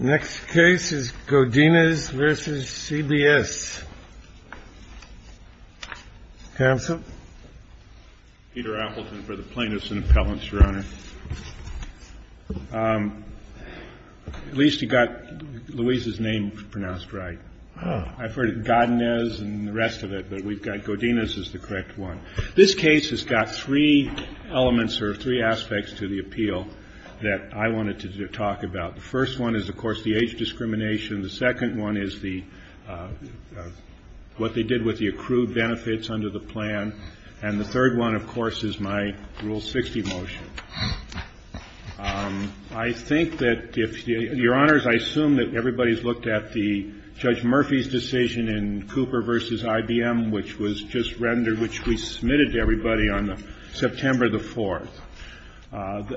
The next case is Godinez v. CBS. Counsel? Peter Appleton for the Plaintiffs' and Appellants, Your Honor. At least you got Louise's name pronounced right. I've heard it Godinez and the rest of it, but we've got Godinez as the correct one. This case has got three elements or three aspects to the appeal that I wanted to talk about. The first one is, of course, the age discrimination. The second one is what they did with the accrued benefits under the plan. And the third one, of course, is my Rule 60 motion. I think that if your honors, I assume that everybody's looked at the Judge Murphy's decision in Cooper v. IBM, which was just rendered, which we submitted to everybody on September the 4th.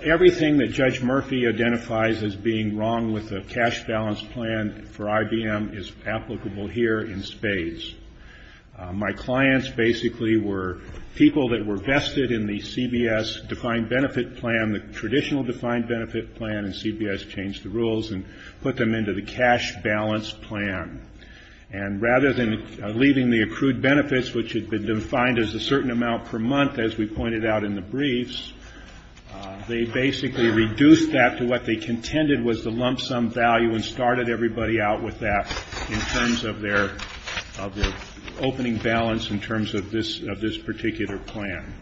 Everything that Judge Murphy identifies as being wrong with the cash balance plan for IBM is applicable here in spades. My clients basically were people that were vested in the CBS defined benefit plan, the traditional defined benefit plan, and CBS changed the rules and put them into the cash balance plan. And rather than leaving the accrued benefits, which had been defined as a certain amount per month, as we pointed out in the briefs, they basically reduced that to what they contended was the lump sum value and started everybody out with that in terms of their opening balance in terms of this particular plan.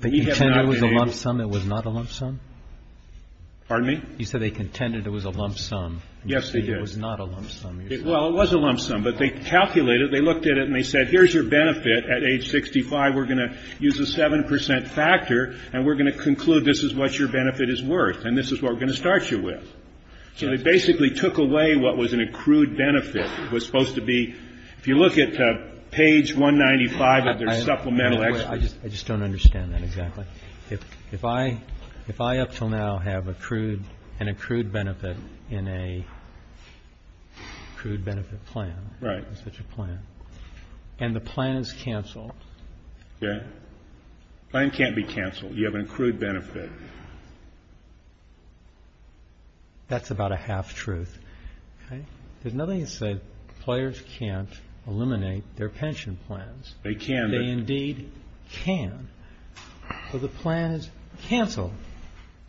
But you said it was a lump sum. It was not a lump sum? Pardon me? You said they contended it was a lump sum. Yes, they did. It was not a lump sum. Well, it was a lump sum, but they calculated it. They looked at it and they said, here's your benefit at age 65. We're going to use a seven percent factor and we're going to conclude this is what your benefit is worth and this is what we're going to start you with. So they basically took away what was an accrued benefit. It was supposed to be, if you look at page 195 of their supplemental explanation. I just don't understand that exactly. If I up until now have an accrued benefit in an accrued benefit plan. Right. And the plan is canceled. Okay. The plan can't be canceled. You have an accrued benefit. That's about a half truth. There's nothing that says players can't eliminate their pension plans. They can. They indeed can. So the plan is canceled.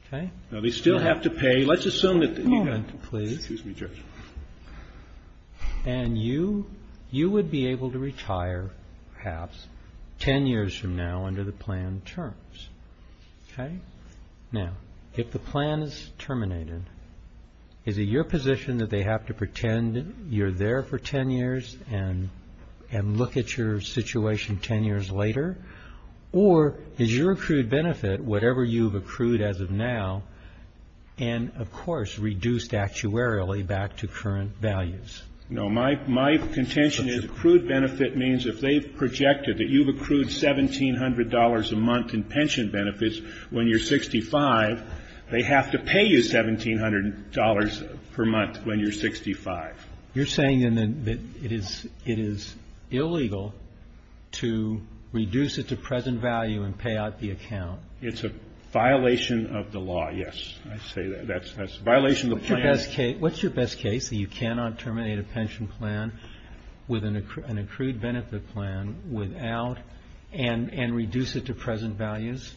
Okay. They still have to pay. Let's assume that. Please. And you you would be able to retire perhaps 10 years from now under the plan terms. Okay. Now, if the plan is terminated, is it your position that they have to pretend you're there for 10 years and look at your situation 10 years later? Or is your accrued benefit whatever you've accrued as of now and, of course, reduced actuarially back to current values? No. My contention is accrued benefit means if they've projected that you've accrued $1,700 a month in pension benefits when you're 65, they have to pay you $1,700 per month when you're 65. You're saying then that it is illegal to reduce it to present value and pay out the account. It's a violation of the law, yes. I say that. That's a violation of the plan. What's your best case that you cannot terminate a pension plan with an accrued benefit plan without and reduce it to present values?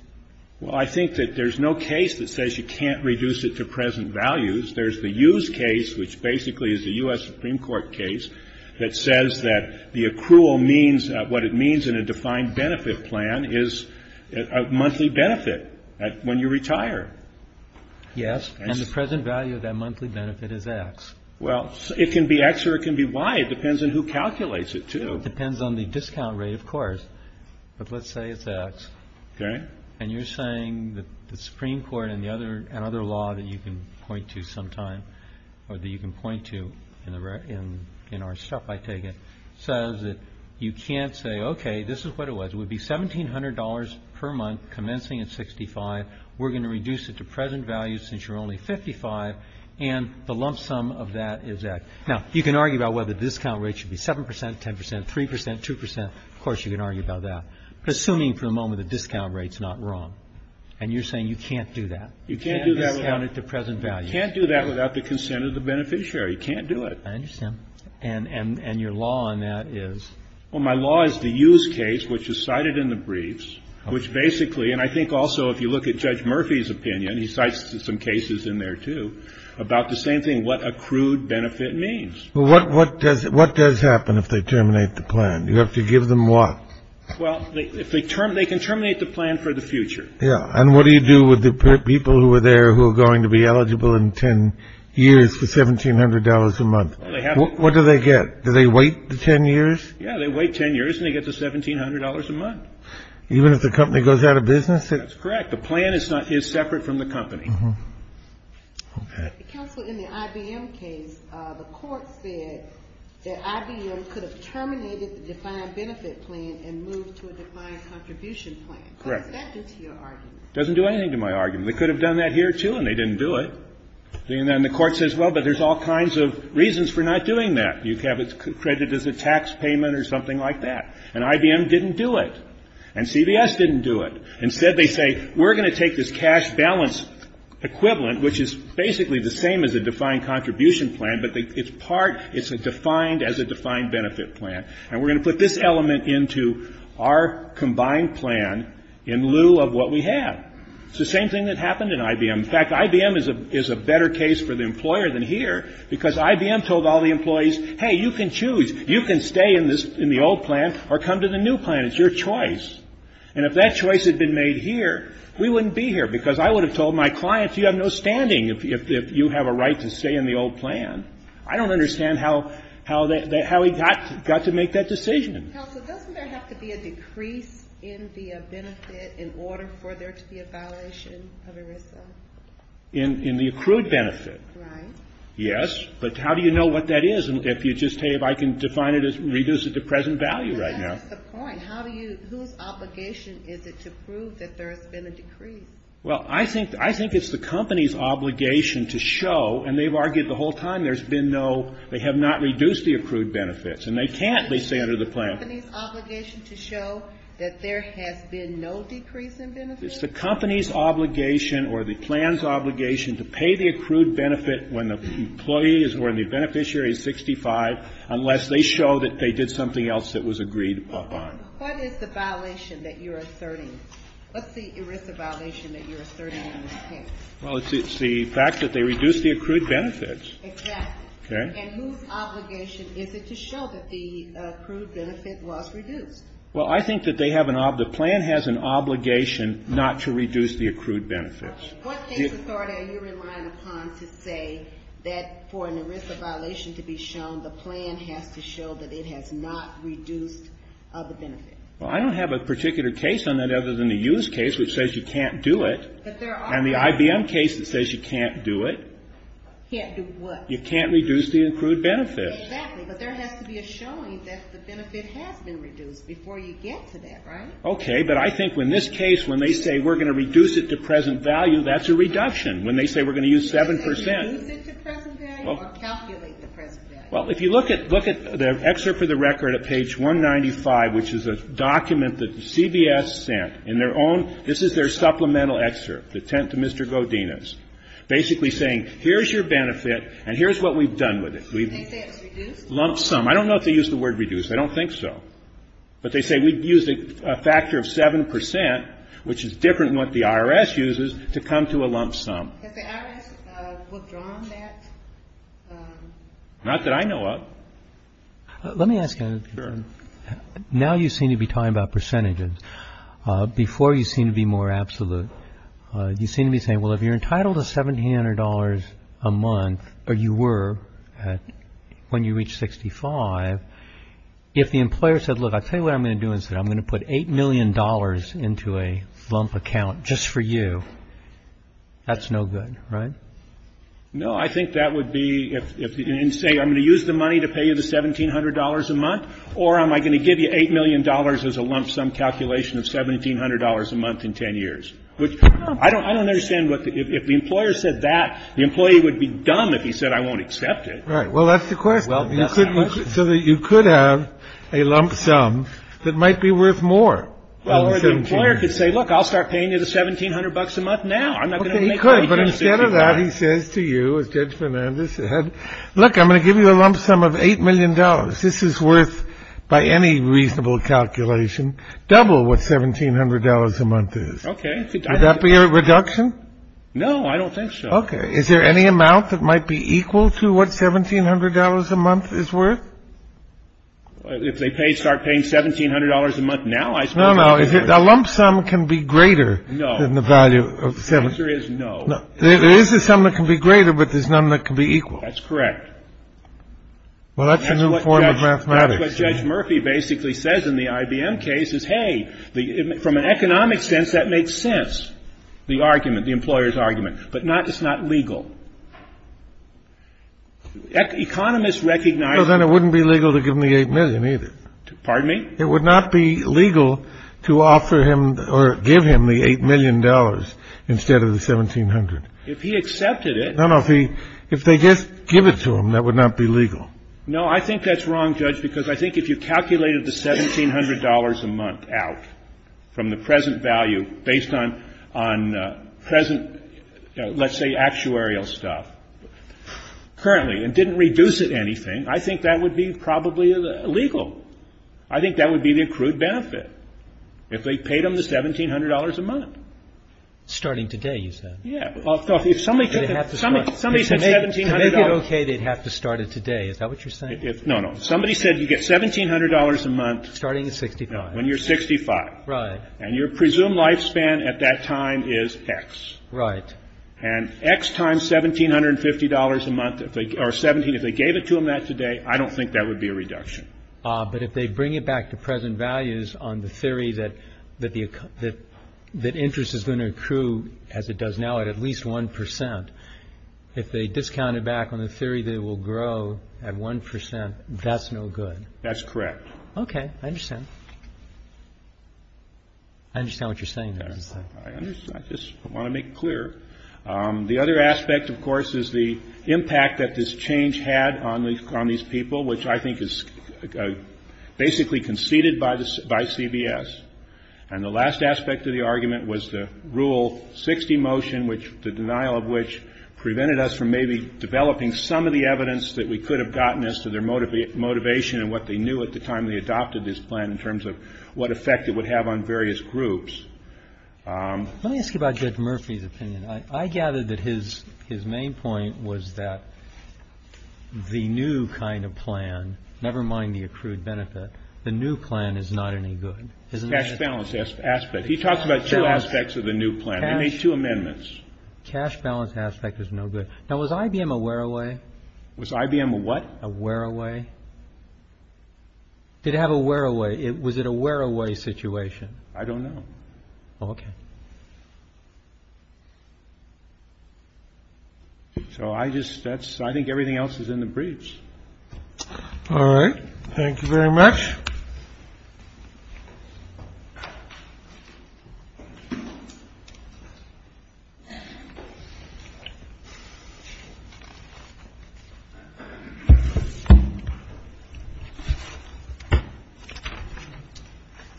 Well, I think that there's no case that says you can't reduce it to present values. There's the use case, which basically is the U.S. Supreme Court case, that says that the accrual means what it means in a defined benefit plan is a monthly benefit when you retire. Yes, and the present value of that monthly benefit is X. Well, it can be X or it can be Y. It depends on who calculates it, too. It depends on the discount rate, of course. But let's say it's X. Okay. And you're saying that the Supreme Court and other law that you can point to sometime or that you can point to in our stuff, I take it, says that you can't say, okay, this is what it was. It would be $1,700 per month commencing at 65. We're going to reduce it to present value since you're only 55, and the lump sum of that is X. Now, you can argue about whether the discount rate should be 7 percent, 10 percent, 3 percent, 2 percent. Of course, you can argue about that. Assuming for the moment the discount rate's not wrong, and you're saying you can't do that. You can't do that. You can't discount it to present value. You can't do that without the consent of the beneficiary. You can't do it. I understand. And your law on that is? Well, my law is the use case, which is cited in the briefs, which basically, and I think also if you look at Judge Murphy's opinion, he cites some cases in there, too, about the same thing, what accrued benefit means. Well, what does happen if they terminate the plan? You have to give them what? Well, they can terminate the plan for the future. Yeah. And what do you do with the people who are there who are going to be eligible in 10 years for $1,700 a month? What do they get? Do they wait the 10 years? Yeah, they wait 10 years, and they get the $1,700 a month. Even if the company goes out of business? That's correct. The plan is separate from the company. Okay. Counsel, in the IBM case, the court said that IBM could have terminated the defined benefit plan and moved to a defined contribution plan. Correct. What does that do to your argument? It doesn't do anything to my argument. They could have done that here, too, and they didn't do it. And then the court says, well, but there's all kinds of reasons for not doing that. You have it credited as a tax payment or something like that. And IBM didn't do it. And CBS didn't do it. Instead, they say, we're going to take this cash balance equivalent, which is basically the same as a defined contribution plan, but it's a defined as a defined benefit plan, and we're going to put this element into our combined plan in lieu of what we have. It's the same thing that happened in IBM. In fact, IBM is a better case for the employer than here because IBM told all the employees, hey, you can choose. You can stay in the old plan or come to the new plan. It's your choice. And if that choice had been made here, we wouldn't be here because I would have told my clients, you have no standing if you have a right to stay in the old plan. I don't understand how he got to make that decision. Counsel, doesn't there have to be a decrease in the benefit in order for there to be a violation of ERISA? In the accrued benefit. Right. Yes, but how do you know what that is if you just say, if I can define it as reduce it to present value right now? That's the point. How do you, whose obligation is it to prove that there has been a decrease? Well, I think it's the company's obligation to show, and they've argued the whole time there's been no, they have not reduced the accrued benefits. And they can't, they say under the plan. Is it the company's obligation to show that there has been no decrease in benefits? It's the company's obligation or the plan's obligation to pay the accrued benefit when the employee is, when the beneficiary is 65, unless they show that they did something else that was agreed upon. What is the violation that you're asserting? What's the ERISA violation that you're asserting in this case? Well, it's the fact that they reduced the accrued benefits. Exactly. Okay. And whose obligation is it to show that the accrued benefit was reduced? Well, I think that they have an, the plan has an obligation not to reduce the accrued benefits. What case authority are you relying upon to say that for an ERISA violation to be shown, the plan has to show that it has not reduced the benefit? Well, I don't have a particular case on that other than the Hughes case, which says you can't do it. But there are. And the IBM case that says you can't do it. Can't do what? You can't reduce the accrued benefits. Exactly. But there has to be a showing that the benefit has been reduced before you get to that, right? Okay. But I think in this case, when they say we're going to reduce it to present value, that's a reduction. When they say we're going to use 7 percent. Can they reduce it to present value or calculate the present value? Well, if you look at the excerpt for the record at page 195, which is a document that CBS sent in their own, this is their supplemental excerpt, the 10th to Mr. Godinez, basically saying here's your benefit and here's what we've done with it. Do they say it's reduced? Lump sum. I don't know if they use the word reduced. I don't think so. But they say we've used a factor of 7 percent, which is different than what the IRS uses, to come to a lump sum. Has the IRS withdrawn that? Not that I know of. Let me ask you a question. Sure. Now you seem to be talking about percentages. Before, you seemed to be more absolute. You seem to be saying, well, if you're entitled to $1,700 a month, or you were when you reached 65, if the employer said, look, I'll tell you what I'm going to do instead. I'm going to put $8 million into a lump account just for you. That's no good, right? No, I think that would be if you didn't say I'm going to use the money to pay you the $1,700 a month, or am I going to give you $8 million as a lump sum calculation of $1,700 a month in 10 years? I don't understand. If the employer said that, the employee would be dumb if he said I won't accept it. Right. Well, that's the question. So that you could have a lump sum that might be worth more. Well, the employer could say, look, I'll start paying you the $1,700 a month now. He could, but instead of that, he says to you, as Judge Fernandez said, look, I'm going to give you a lump sum of $8 million. This is worth, by any reasonable calculation, double what $1,700 a month is. Okay. Would that be a reduction? No, I don't think so. Okay. Is there any amount that might be equal to what $1,700 a month is worth? If they start paying $1,700 a month now, I suppose. No, no. A lump sum can be greater than the value of $1,700. The answer is no. There is a sum that can be greater, but there's none that can be equal. That's correct. Well, that's a new form of mathematics. That's what Judge Murphy basically says in the IBM case is, hey, from an economic sense, that makes sense, the argument, the employer's argument. But it's not legal. Economists recognize that. Well, then it wouldn't be legal to give him the $8 million either. Pardon me? It would not be legal to offer him or give him the $8 million instead of the $1,700. If he accepted it. No, no. If they just give it to him, that would not be legal. No, I think that's wrong, Judge, because I think if you calculated the $1,700 a month out from the present value, based on present, let's say, actuarial stuff, currently, and didn't reduce it anything, I think that would be probably illegal. I think that would be the accrued benefit, if they paid him the $1,700 a month. Starting today, you said. Yeah. Somebody said $1,700. To make it okay, they'd have to start it today. Is that what you're saying? No, no. Somebody said you get $1,700 a month. Starting at 65. No, when you're 65. Right. And your presumed lifespan at that time is X. Right. And X times $1,750 a month, or 17, if they gave it to him that today, I don't think that would be a reduction. But if they bring it back to present values on the theory that interest is going to accrue, as it does now, at at least 1 percent, if they discount it back on the theory that it will grow at 1 percent, that's no good. That's correct. Okay. I understand. I understand what you're saying there. I understand. I just want to make it clear. The other aspect, of course, is the impact that this change had on these people, which I think is basically conceded by CBS. And the last aspect of the argument was the Rule 60 motion, which the denial of which prevented us from maybe developing some of the evidence that we could have gotten as to their motivation and what they knew at the time they adopted this plan in terms of what effect it would have on various groups. Let me ask you about Judge Murphy's opinion. I gather that his main point was that the new kind of plan, never mind the accrued benefit, the new plan is not any good. Cash balance aspect. He talks about two aspects of the new plan. They made two amendments. Cash balance aspect is no good. Now, was IBM a wear away? Was IBM a what? A wear away. Did it have a wear away? Was it a wear away situation? I don't know. Okay. So I just that's I think everything else is in the briefs. All right. Thank you very much.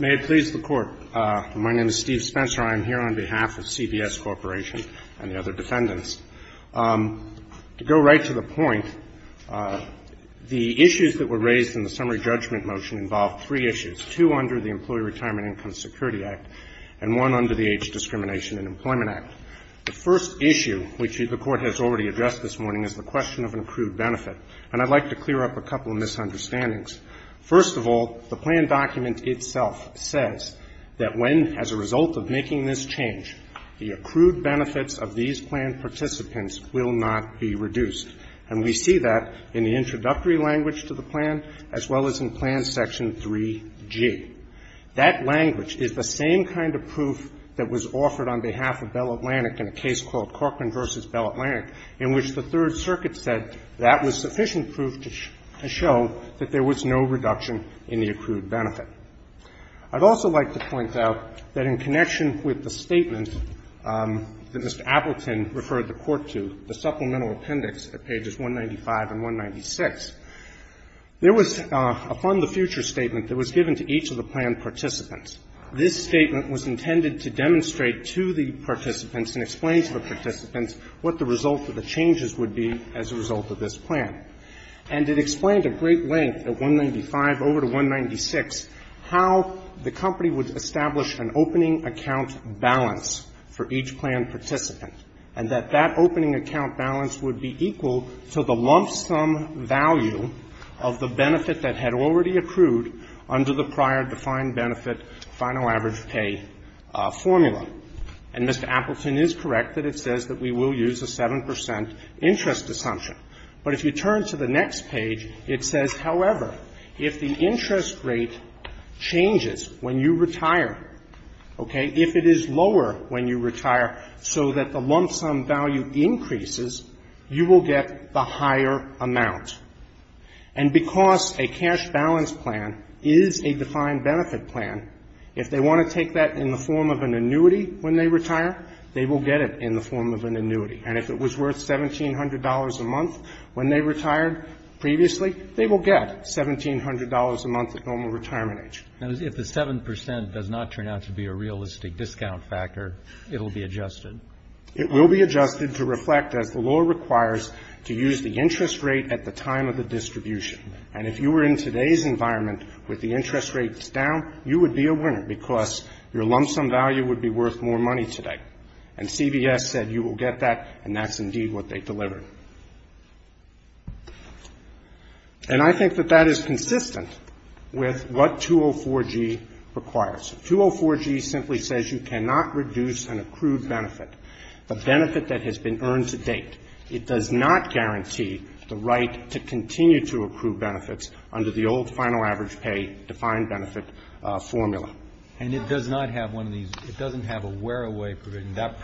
May it please the Court. My name is Steve Spencer. I am here on behalf of CBS Corporation and the other defendants. To go right to the point, the issues that were raised in the summary judgment motion involved three issues, two under the Employee Retirement Income Security Act and one under the Age Discrimination and Employment Act. The first issue, which the Court has already addressed this morning, is the question of an accrued benefit. And I'd like to clear up a couple of misunderstandings. First of all, the plan document itself says that when, as a result of making this change, the accrued benefits of these plan participants will not be reduced. And we see that in the introductory language to the plan as well as in plan section 3G. That language is the same kind of proof that was offered on behalf of Bell Atlantic in a case called Corcoran v. Bell Atlantic in which the Third Circuit said that was sufficient proof to show that there was no reduction in the accrued benefit. I'd also like to point out that in connection with the statement that Mr. Appleton referred the Court to, the supplemental appendix at pages 195 and 196, there was a fund the future statement that was given to each of the plan participants. This statement was intended to demonstrate to the participants and explain to the participants what the result of the changes would be as a result of this plan. And it explained at great length at 195 over to 196 how the company would establish an opening account balance for each plan participant and that that opening account balance would be equal to the lump sum value of the benefit that had already accrued under the prior defined benefit final average pay formula. And Mr. Appleton is correct that it says that we will use a 7 percent interest assumption. But if you turn to the next page, it says, however, if the interest rate changes when you retire, okay, if it is lower when you retire so that the lump sum value increases, you will get the higher amount. And because a cash balance plan is a defined benefit plan, if they want to take that in the form of an annuity when they retire, they will get it in the form of an annuity. And if it was worth $1,700 a month when they retired previously, they will get $1,700 a month at normal retirement age. Roberts. Now, if the 7 percent does not turn out to be a realistic discount factor, it will be adjusted. It will be adjusted to reflect, as the law requires, to use the interest rate at the time of the distribution. And if you were in today's environment with the interest rates down, you would be a winner because your lump sum value would be worth more money today. And CVS said you will get that, and that's indeed what they delivered. And I think that that is consistent with what 204G requires. 204G simply says you cannot reduce an accrued benefit, a benefit that has been earned to date. It does not guarantee the right to continue to accrue benefits under the old final average pay defined benefit formula. And it does not have one of these, it doesn't have a wear-away, and that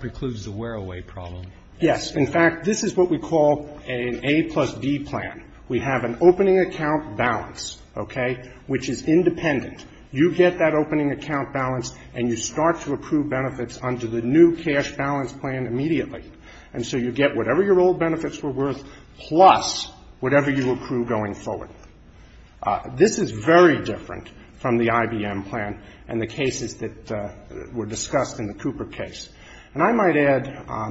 precludes the wear-away problem. Yes. In fact, this is what we call an A plus B plan. We have an opening account balance, okay, which is independent. You get that opening account balance and you start to accrue benefits under the new cash balance plan immediately. And so you get whatever your old benefits were worth plus whatever you accrue going forward. This is very different from the IBM plan and the cases that were discussed in the Cooper case. And I might add. How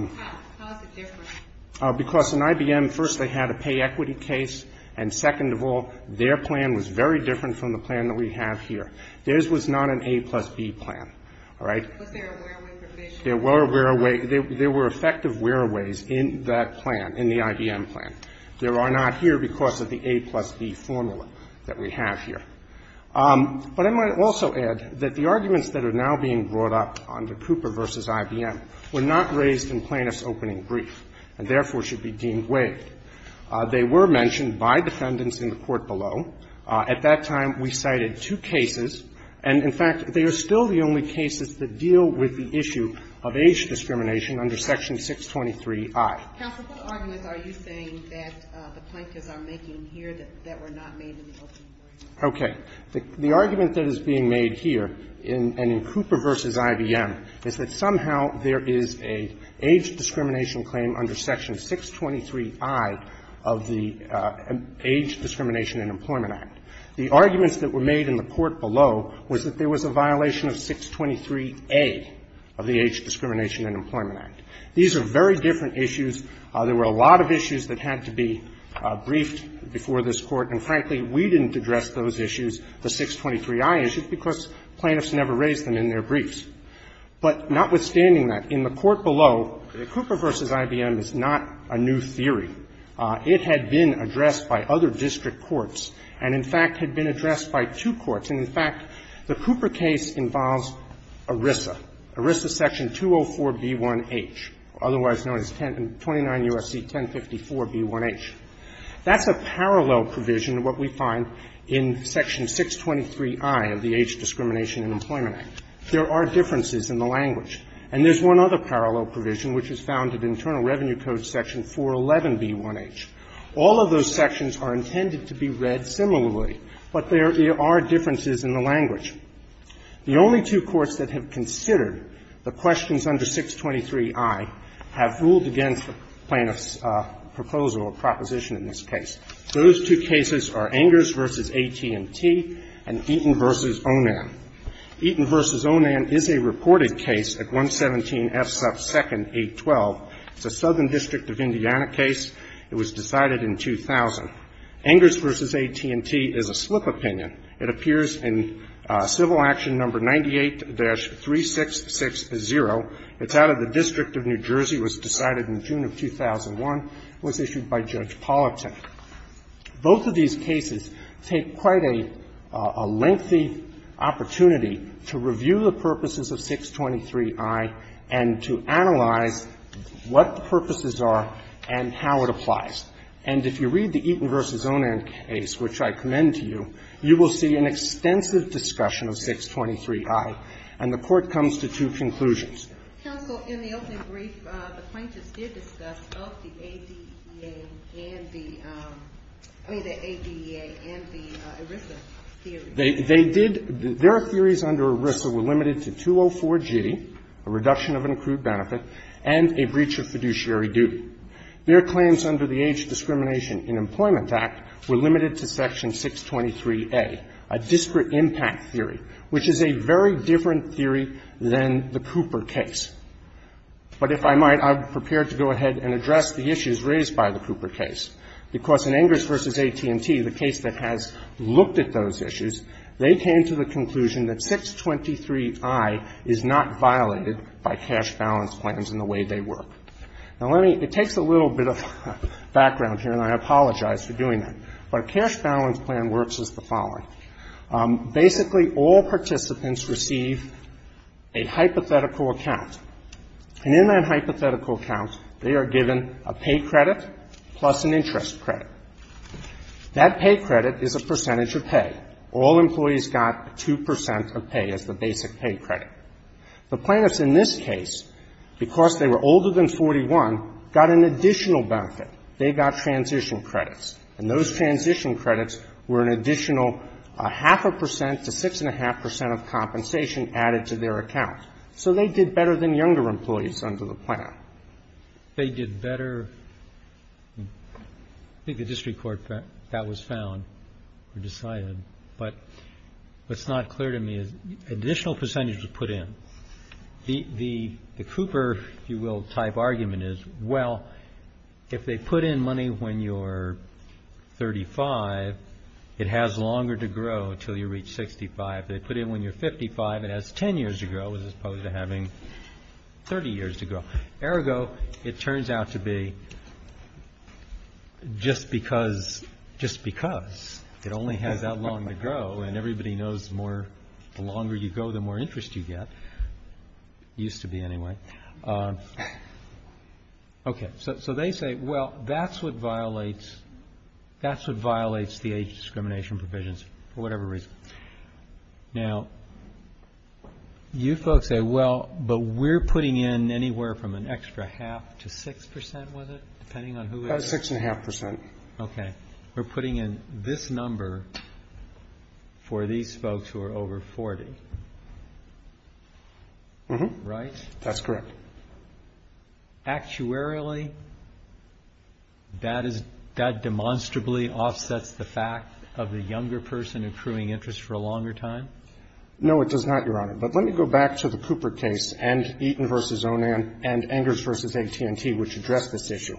is it different? Because in IBM, first they had a pay equity case, and second of all, their plan was very different from the plan that we have here. Theirs was not an A plus B plan, all right? Was there a wear-away provision? There were wear-aways. There were effective wear-aways in that plan, in the IBM plan. There are not here because of the A plus B formula that we have here. But I might also add that the arguments that are now being brought up under Cooper v. IBM were not raised in plaintiff's opening brief and therefore should be deemed waived. They were mentioned by defendants in the court below. At that time, we cited two cases, and in fact, they are still the only cases that deal with the issue of age discrimination under Section 623i. Counsel, what arguments are you saying that the plaintiffs are making here that were not made in the opening brief? Okay. The argument that is being made here, and in Cooper v. IBM, is that somehow there is an age discrimination claim under Section 623i of the Age Discrimination and Employment Act. The arguments that were made in the court below was that there was a violation of 623a of the Age Discrimination and Employment Act. These are very different issues. There were a lot of issues that had to be briefed before this Court, and frankly, we didn't address those issues, the 623i issues, because plaintiffs never raise them in their briefs. But notwithstanding that, in the court below, Cooper v. IBM is not a new theory. It had been addressed by other district courts and, in fact, had been addressed by two courts. And in fact, the Cooper case involves ERISA, ERISA Section 204b1h, otherwise known as 29 U.S.C. 1054b1h. That's a parallel provision to what we find in Section 623i of the Age Discrimination and Employment Act. There are differences in the language. And there's one other parallel provision which is found in Internal Revenue Code Section 411b1h. All of those sections are intended to be read similarly, but there are differences in the language. The only two courts that have considered the questions under 623i have ruled against the plaintiff's proposal or proposition in this case. Those two cases are Engers v. AT&T and Eaton v. Onan. Eaton v. Onan is a reported case at 117F2nd812. It's a Southern District of Indiana case. It was decided in 2000. Engers v. AT&T is a slip opinion. It appears in Civil Action No. 98-3660. It's out of the District of New Jersey. It was decided in June of 2001. It was issued by Judge Politik. Both of these cases take quite a lengthy opportunity to review the purposes of 623i and to analyze what the purposes are and how it applies. And if you read the Eaton v. Onan case, which I commend to you, you will see an extensive discussion of 623i, and the Court comes to two conclusions. Counsel, in the opening brief, the plaintiffs did discuss both the ADEA and the ADEA and the ERISA theory. They did — their theories under ERISA were limited to 204G, a reduction of an accrued benefit, and a breach of fiduciary duty. Their claims under the Age Discrimination in Employment Act were limited to section 623a, a disparate impact theory, which is a very different theory than the Cooper case. But if I might, I'm prepared to go ahead and address the issues raised by the Cooper case, because in Engers v. AT&T, the case that has looked at those issues, they came to the conclusion that 623i is not violated by cash balance plans in the way they work. Now, let me — it takes a little bit of background here, and I apologize for doing that, but a cash balance plan works as the following. Basically, all participants receive a hypothetical account. And in that hypothetical account, they are given a pay credit plus an interest credit. That pay credit is a percentage of pay. All employees got 2 percent of pay as the basic pay credit. The plaintiffs in this case, because they were older than 41, got an additional benefit. They got transition credits. And those transition credits were an additional half a percent to 6.5 percent of compensation added to their account. So they did better than younger employees under the plan. They did better. I think the district court, that was found or decided. But what's not clear to me is additional percentage was put in. The Cooper, if you will, type argument is, well, if they put in money when you're 35, it has longer to grow until you reach 65. They put in when you're 55, it has 10 years to grow as opposed to having 30 years to grow. Ergo, it turns out to be just because it only has that long to grow, and everybody knows the longer you go, the more interest you get. It used to be anyway. Okay. So they say, well, that's what violates the age discrimination provisions for Now, you folks say, well, but we're putting in anywhere from an extra half to 6 percent, was it? Depending on who it is. About 6.5 percent. Okay. We're putting in this number for these folks who are over 40. Right? That's correct. Actuarily, that demonstrably offsets the fact of the younger person accruing interest for a longer time. No, it does not, Your Honor. But let me go back to the Cooper case and Eaton v. Onan and Engers v. AT&T, which address this issue.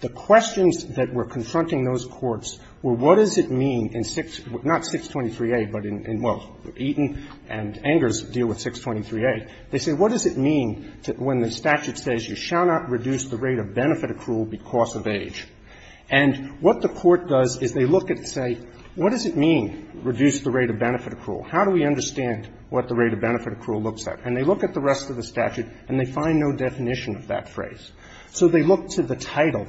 The questions that were confronting those courts were, what does it mean in 6, not 623A, but in, well, Eaton and Engers deal with 623A. They say, what does it mean when the statute says you shall not reduce the rate of benefit accrual because of age? And what the court does is they look and say, what does it mean, reduce the rate of benefit accrual? How do we understand what the rate of benefit accrual looks like? And they look at the rest of the statute and they find no definition of that phrase. So they look to the title.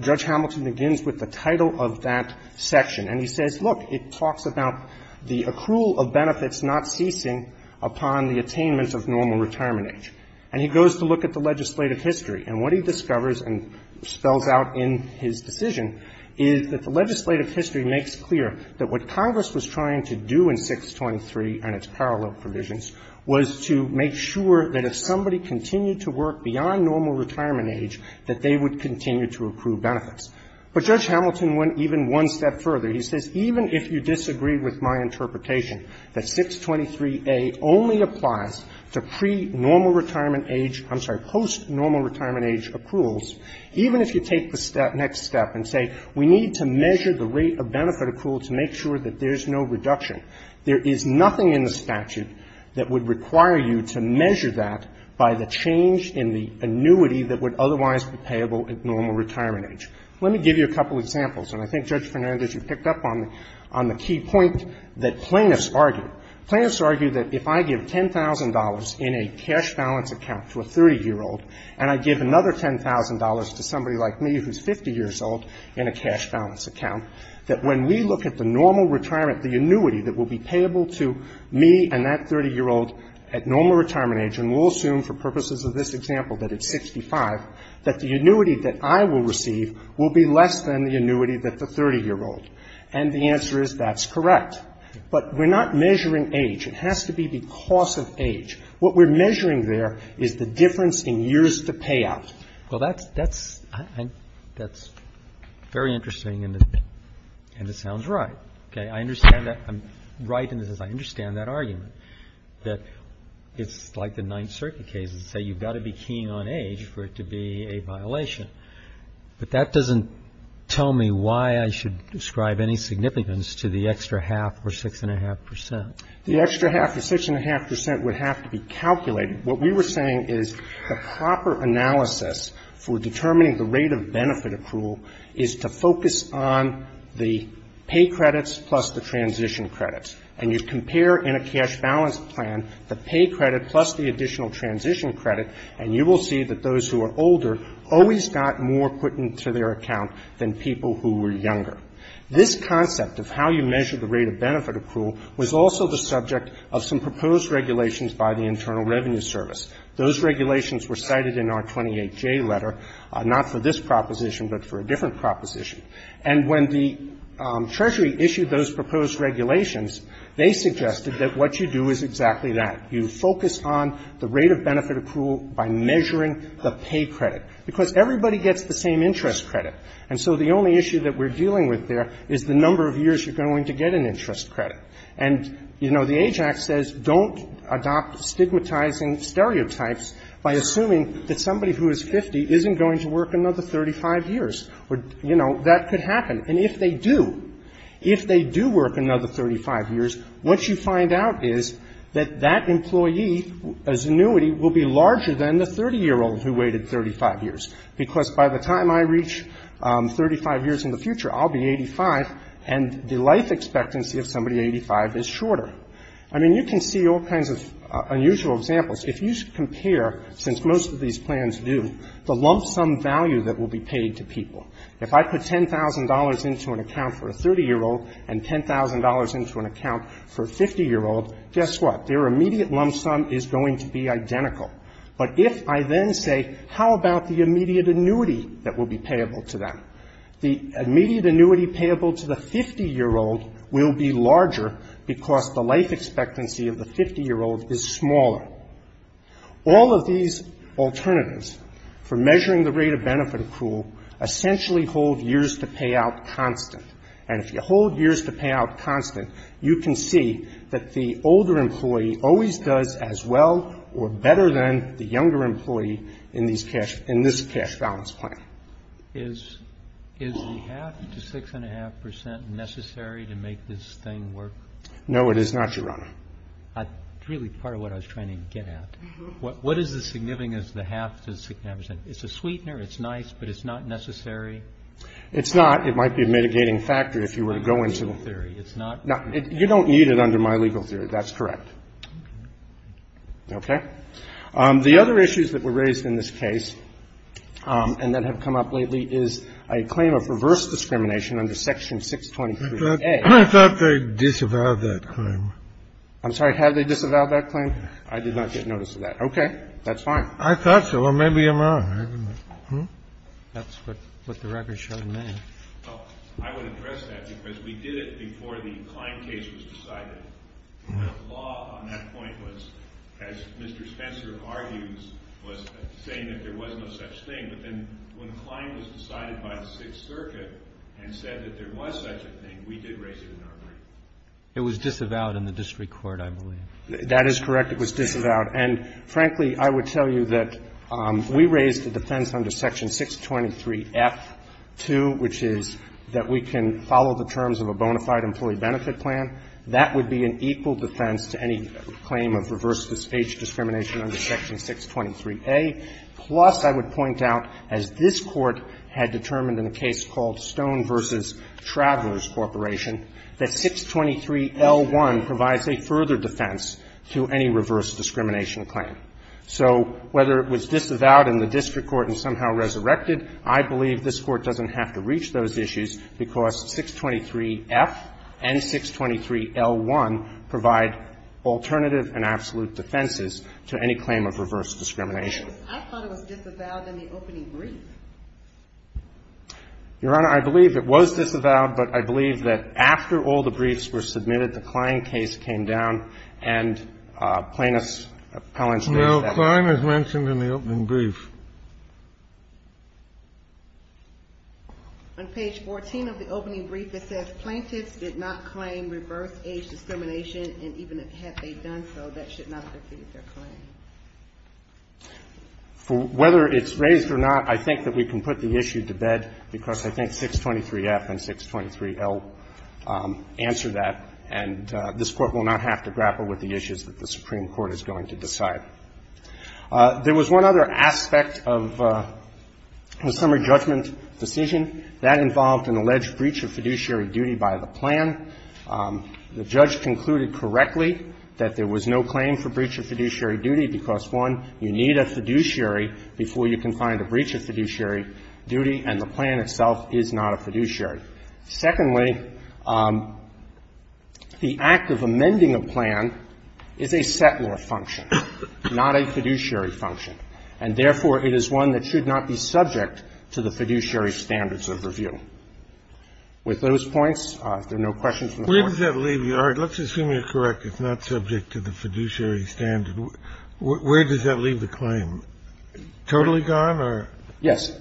Judge Hamilton begins with the title of that section. And he says, look, it talks about the accrual of benefits not ceasing upon the attainment of normal retirement age. And he goes to look at the legislative history. And what he discovers and spells out in his decision is that the legislative history makes clear that what Congress was trying to do in 623 and its parallel provisions was to make sure that if somebody continued to work beyond normal retirement age, that they would continue to approve benefits. But Judge Hamilton went even one step further. He says, even if you disagree with my interpretation that 623A only applies to pre-normal retirement age or post-normal retirement age accruals, even if you take the next step and say we need to measure the rate of benefit accrual to make sure that there's no reduction, there is nothing in the statute that would require you to measure that by the change in the annuity that would otherwise be payable at normal retirement age. Let me give you a couple of examples. And I think, Judge Fernandez, you picked up on the key point that plaintiffs argue. Plaintiffs argue that if I give $10,000 in a cash balance account to a 30-year-old and I give another $10,000 to somebody like me who's 50 years old in a cash balance account, that when we look at the normal retirement, the annuity that will be payable to me and that 30-year-old at normal retirement age, and we'll assume for purposes of this example that it's 65, that the annuity that I will receive will be less than the annuity that the 30-year-old. And the answer is that's correct. But we're not measuring age. It has to be the cost of age. What we're measuring there is the difference in years to pay out. Well, that's very interesting, and it sounds right. Okay. I understand that. I'm right in this. I understand that argument, that it's like the Ninth Circuit cases that say you've got to be keen on age for it to be a violation. But that doesn't tell me why I should describe any significance to the extra half or 6.5%. The extra half or 6.5% would have to be calculated. What we were saying is the proper analysis for determining the rate of benefit accrual is to focus on the pay credits plus the transition credits. And you compare in a cash balance plan the pay credit plus the additional transition credit, and you will see that those who are older always got more put into their account than people who were younger. This concept of how you measure the rate of benefit accrual was also the subject of some proposed regulations by the Internal Revenue Service. Those regulations were cited in our 28J letter, not for this proposition, but for a different proposition. And when the Treasury issued those proposed regulations, they suggested that what you do is exactly that. You focus on the rate of benefit accrual by measuring the pay credit, because everybody gets the same interest credit. And so the only issue that we're dealing with there is the number of years you're going to get an interest credit. And, you know, the AJAX says don't adopt stigmatizing stereotypes by assuming that somebody who is 50 isn't going to work another 35 years. You know, that could happen. And if they do, if they do work another 35 years, what you find out is that that employee's annuity will be larger than the 30-year-old who waited 35 years. Because by the time I reach 35 years in the future, I'll be 85, and the life expectancy of somebody 85 is shorter. I mean, you can see all kinds of unusual examples. If you compare, since most of these plans do, the lump sum value that will be paid to people. If I put $10,000 into an account for a 30-year-old and $10,000 into an account for a 50-year-old, guess what? Their immediate lump sum is going to be identical. But if I then say, how about the immediate annuity that will be payable to them? The immediate annuity payable to the 50-year-old will be larger because the life expectancy of the 50-year-old is smaller. All of these alternatives for measuring the rate of benefit accrual essentially hold years to payout constant. And if you hold years to payout constant, you can see that the older employee always does as well or better than the younger employee in this cash balance plan. Is the half to 6.5% necessary to make this thing work? No, it is not, Your Honor. It's really part of what I was trying to get at. What is the significance of the half to 6.5%? It's a sweetener. It's nice, but it's not necessary? It's not. It might be a mitigating factor if you were to go into the theory. It's not. You don't need it under my legal theory. That's correct. Okay. The other issues that were raised in this case and that have come up lately is a claim of reverse discrimination under Section 623A. I thought they disavowed that claim. I'm sorry. Had they disavowed that claim? I did not get notice of that. Okay. That's fine. I thought so. Or maybe I'm wrong. That's what the record showed me. I would address that because we did it before the Klein case was decided. The law on that point was, as Mr. Spencer argues, was saying that there was no such thing. But then when Klein was decided by the Sixth Circuit and said that there was such a thing, we did raise it in our brief. It was disavowed in the district court, I believe. That is correct. It was disavowed. And, frankly, I would tell you that we raised the defense under Section 623F-2, which is that we can follow the terms of a bona fide employee benefit plan. That would be an equal defense to any claim of reverse age discrimination under Section 623A. Plus, I would point out, as this Court had determined in a case called Stone v. Travelers Corporation, that 623L1 provides a further defense to any reverse discrimination claim. So whether it was disavowed in the district court and somehow resurrected, I believe this Court doesn't have to reach those issues because 623F and 623L1 provide alternative and absolute defenses to any claim of reverse discrimination. I thought it was disavowed in the opening brief. Your Honor, I believe it was disavowed, but I believe that after all the briefs were submitted, the Klein case came down, and plaintiffs' appellants raised that. Now, Klein is mentioned in the opening brief. On page 14 of the opening brief, it says, Plaintiffs did not claim reverse age discrimination, and even had they done so, that should not have defeated their claim. Whether it's raised or not, I think that we can put the issue to bed because I think 623F and 623L answer that, and this Court will not have to grapple with the issues that the Supreme Court is going to decide. There was one other aspect of the summary judgment decision. That involved an alleged breach of fiduciary duty by the plan. The judge concluded correctly that there was no claim for breach of fiduciary duty because, one, you need a fiduciary before you can find a breach of fiduciary duty, and the plan itself is not a fiduciary. Secondly, the act of amending a plan is a settler function, not a fiduciary function, and therefore, it is one that should not be subject to the fiduciary standards of review. With those points, if there are no questions from the Court. Kennedy, where does that leave you? All right. Let's assume you're correct. Where does that leave the claim? Totally gone or? Yes.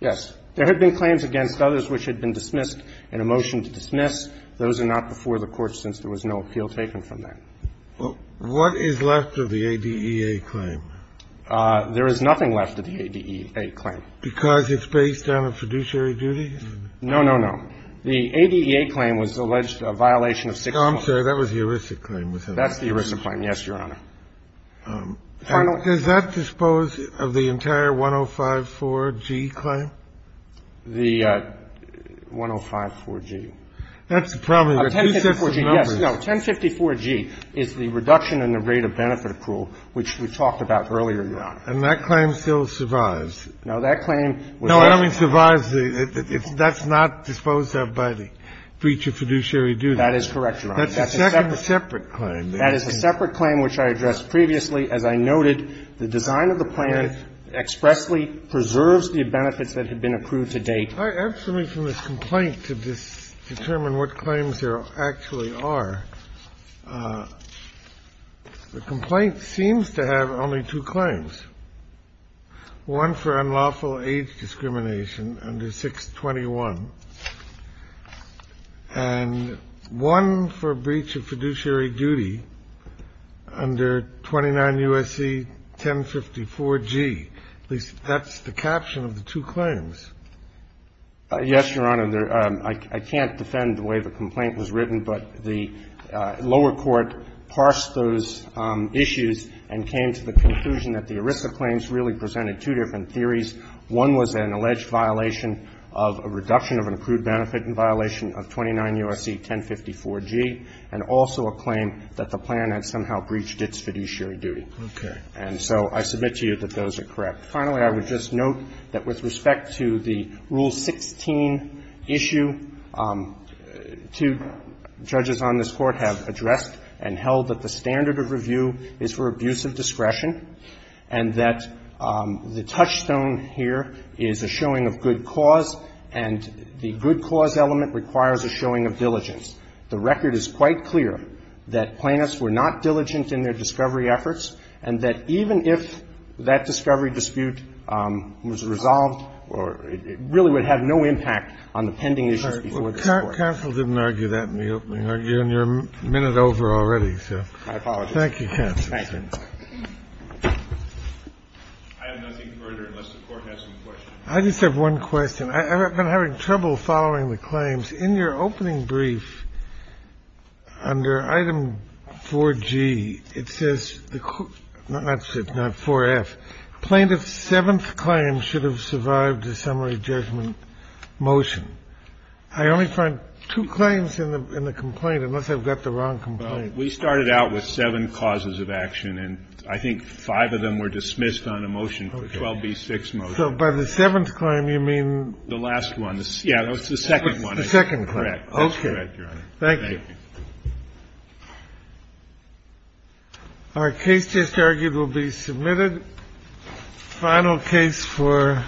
Yes. There had been claims against others which had been dismissed and a motion to dismiss. Those are not before the Court since there was no appeal taken from that. What is left of the ADEA claim? There is nothing left of the ADEA claim. Because it's based on a fiduciary duty? No, no, no. The ADEA claim was alleged a violation of six points. Oh, I'm sorry. That was the ERISA claim. That's the ERISA claim. Yes, Your Honor. Does that dispose of the entire 105.4g claim? The 105.4g. That's probably the two sets of numbers. No, 1054.g is the reduction in the rate of benefit accrual, which we talked about earlier, Your Honor. And that claim still survives? No, that claim was not. No, I don't mean survives. That's not disposed of by the breach of fiduciary duty. That is correct, Your Honor. That's a separate claim. That is a separate claim which I addressed previously. As I noted, the design of the plan expressly preserves the benefits that have been approved to date. I have something from this complaint to determine what claims there actually are. The complaint seems to have only two claims, one for unlawful age discrimination under 621, and one for breach of fiduciary duty under 29 U.S.C. 1054.g. At least that's the caption of the two claims. Yes, Your Honor. I can't defend the way the complaint was written, but the lower court parsed those issues and came to the conclusion that the ERISA claims really presented two different issues. One was an alleged violation of a reduction of an approved benefit in violation of 29 U.S.C. 1054.g. and also a claim that the plan had somehow breached its fiduciary duty. Okay. And so I submit to you that those are correct. Finally, I would just note that with respect to the Rule 16 issue, two judges on this Court have addressed and held that the standard of review is for abuse of discretion and that the touchstone here is a showing of good cause and the good cause element requires a showing of diligence. The record is quite clear that plaintiffs were not diligent in their discovery efforts and that even if that discovery dispute was resolved, it really would have no impact on the pending issues before this Court. Counsel didn't argue that in the opening argument. You're a minute over already, so. I apologize. Thank you, counsel. I have nothing further unless the Court has some questions. I just have one question. I've been having trouble following the claims. In your opening brief, under item 4G, it says the – not 4F. Plaintiff's seventh claim should have survived a summary judgment motion. I only find two claims in the complaint, unless I've got the wrong complaint. Well, we started out with seven causes of action, and I think five of them were dismissed on a motion, a 12B6 motion. So by the seventh claim, you mean? The last one. Yeah, it's the second one. The second claim. Correct. Okay. That's correct, Your Honor. Thank you. Thank you. Our case just argued will be submitted. Final case for.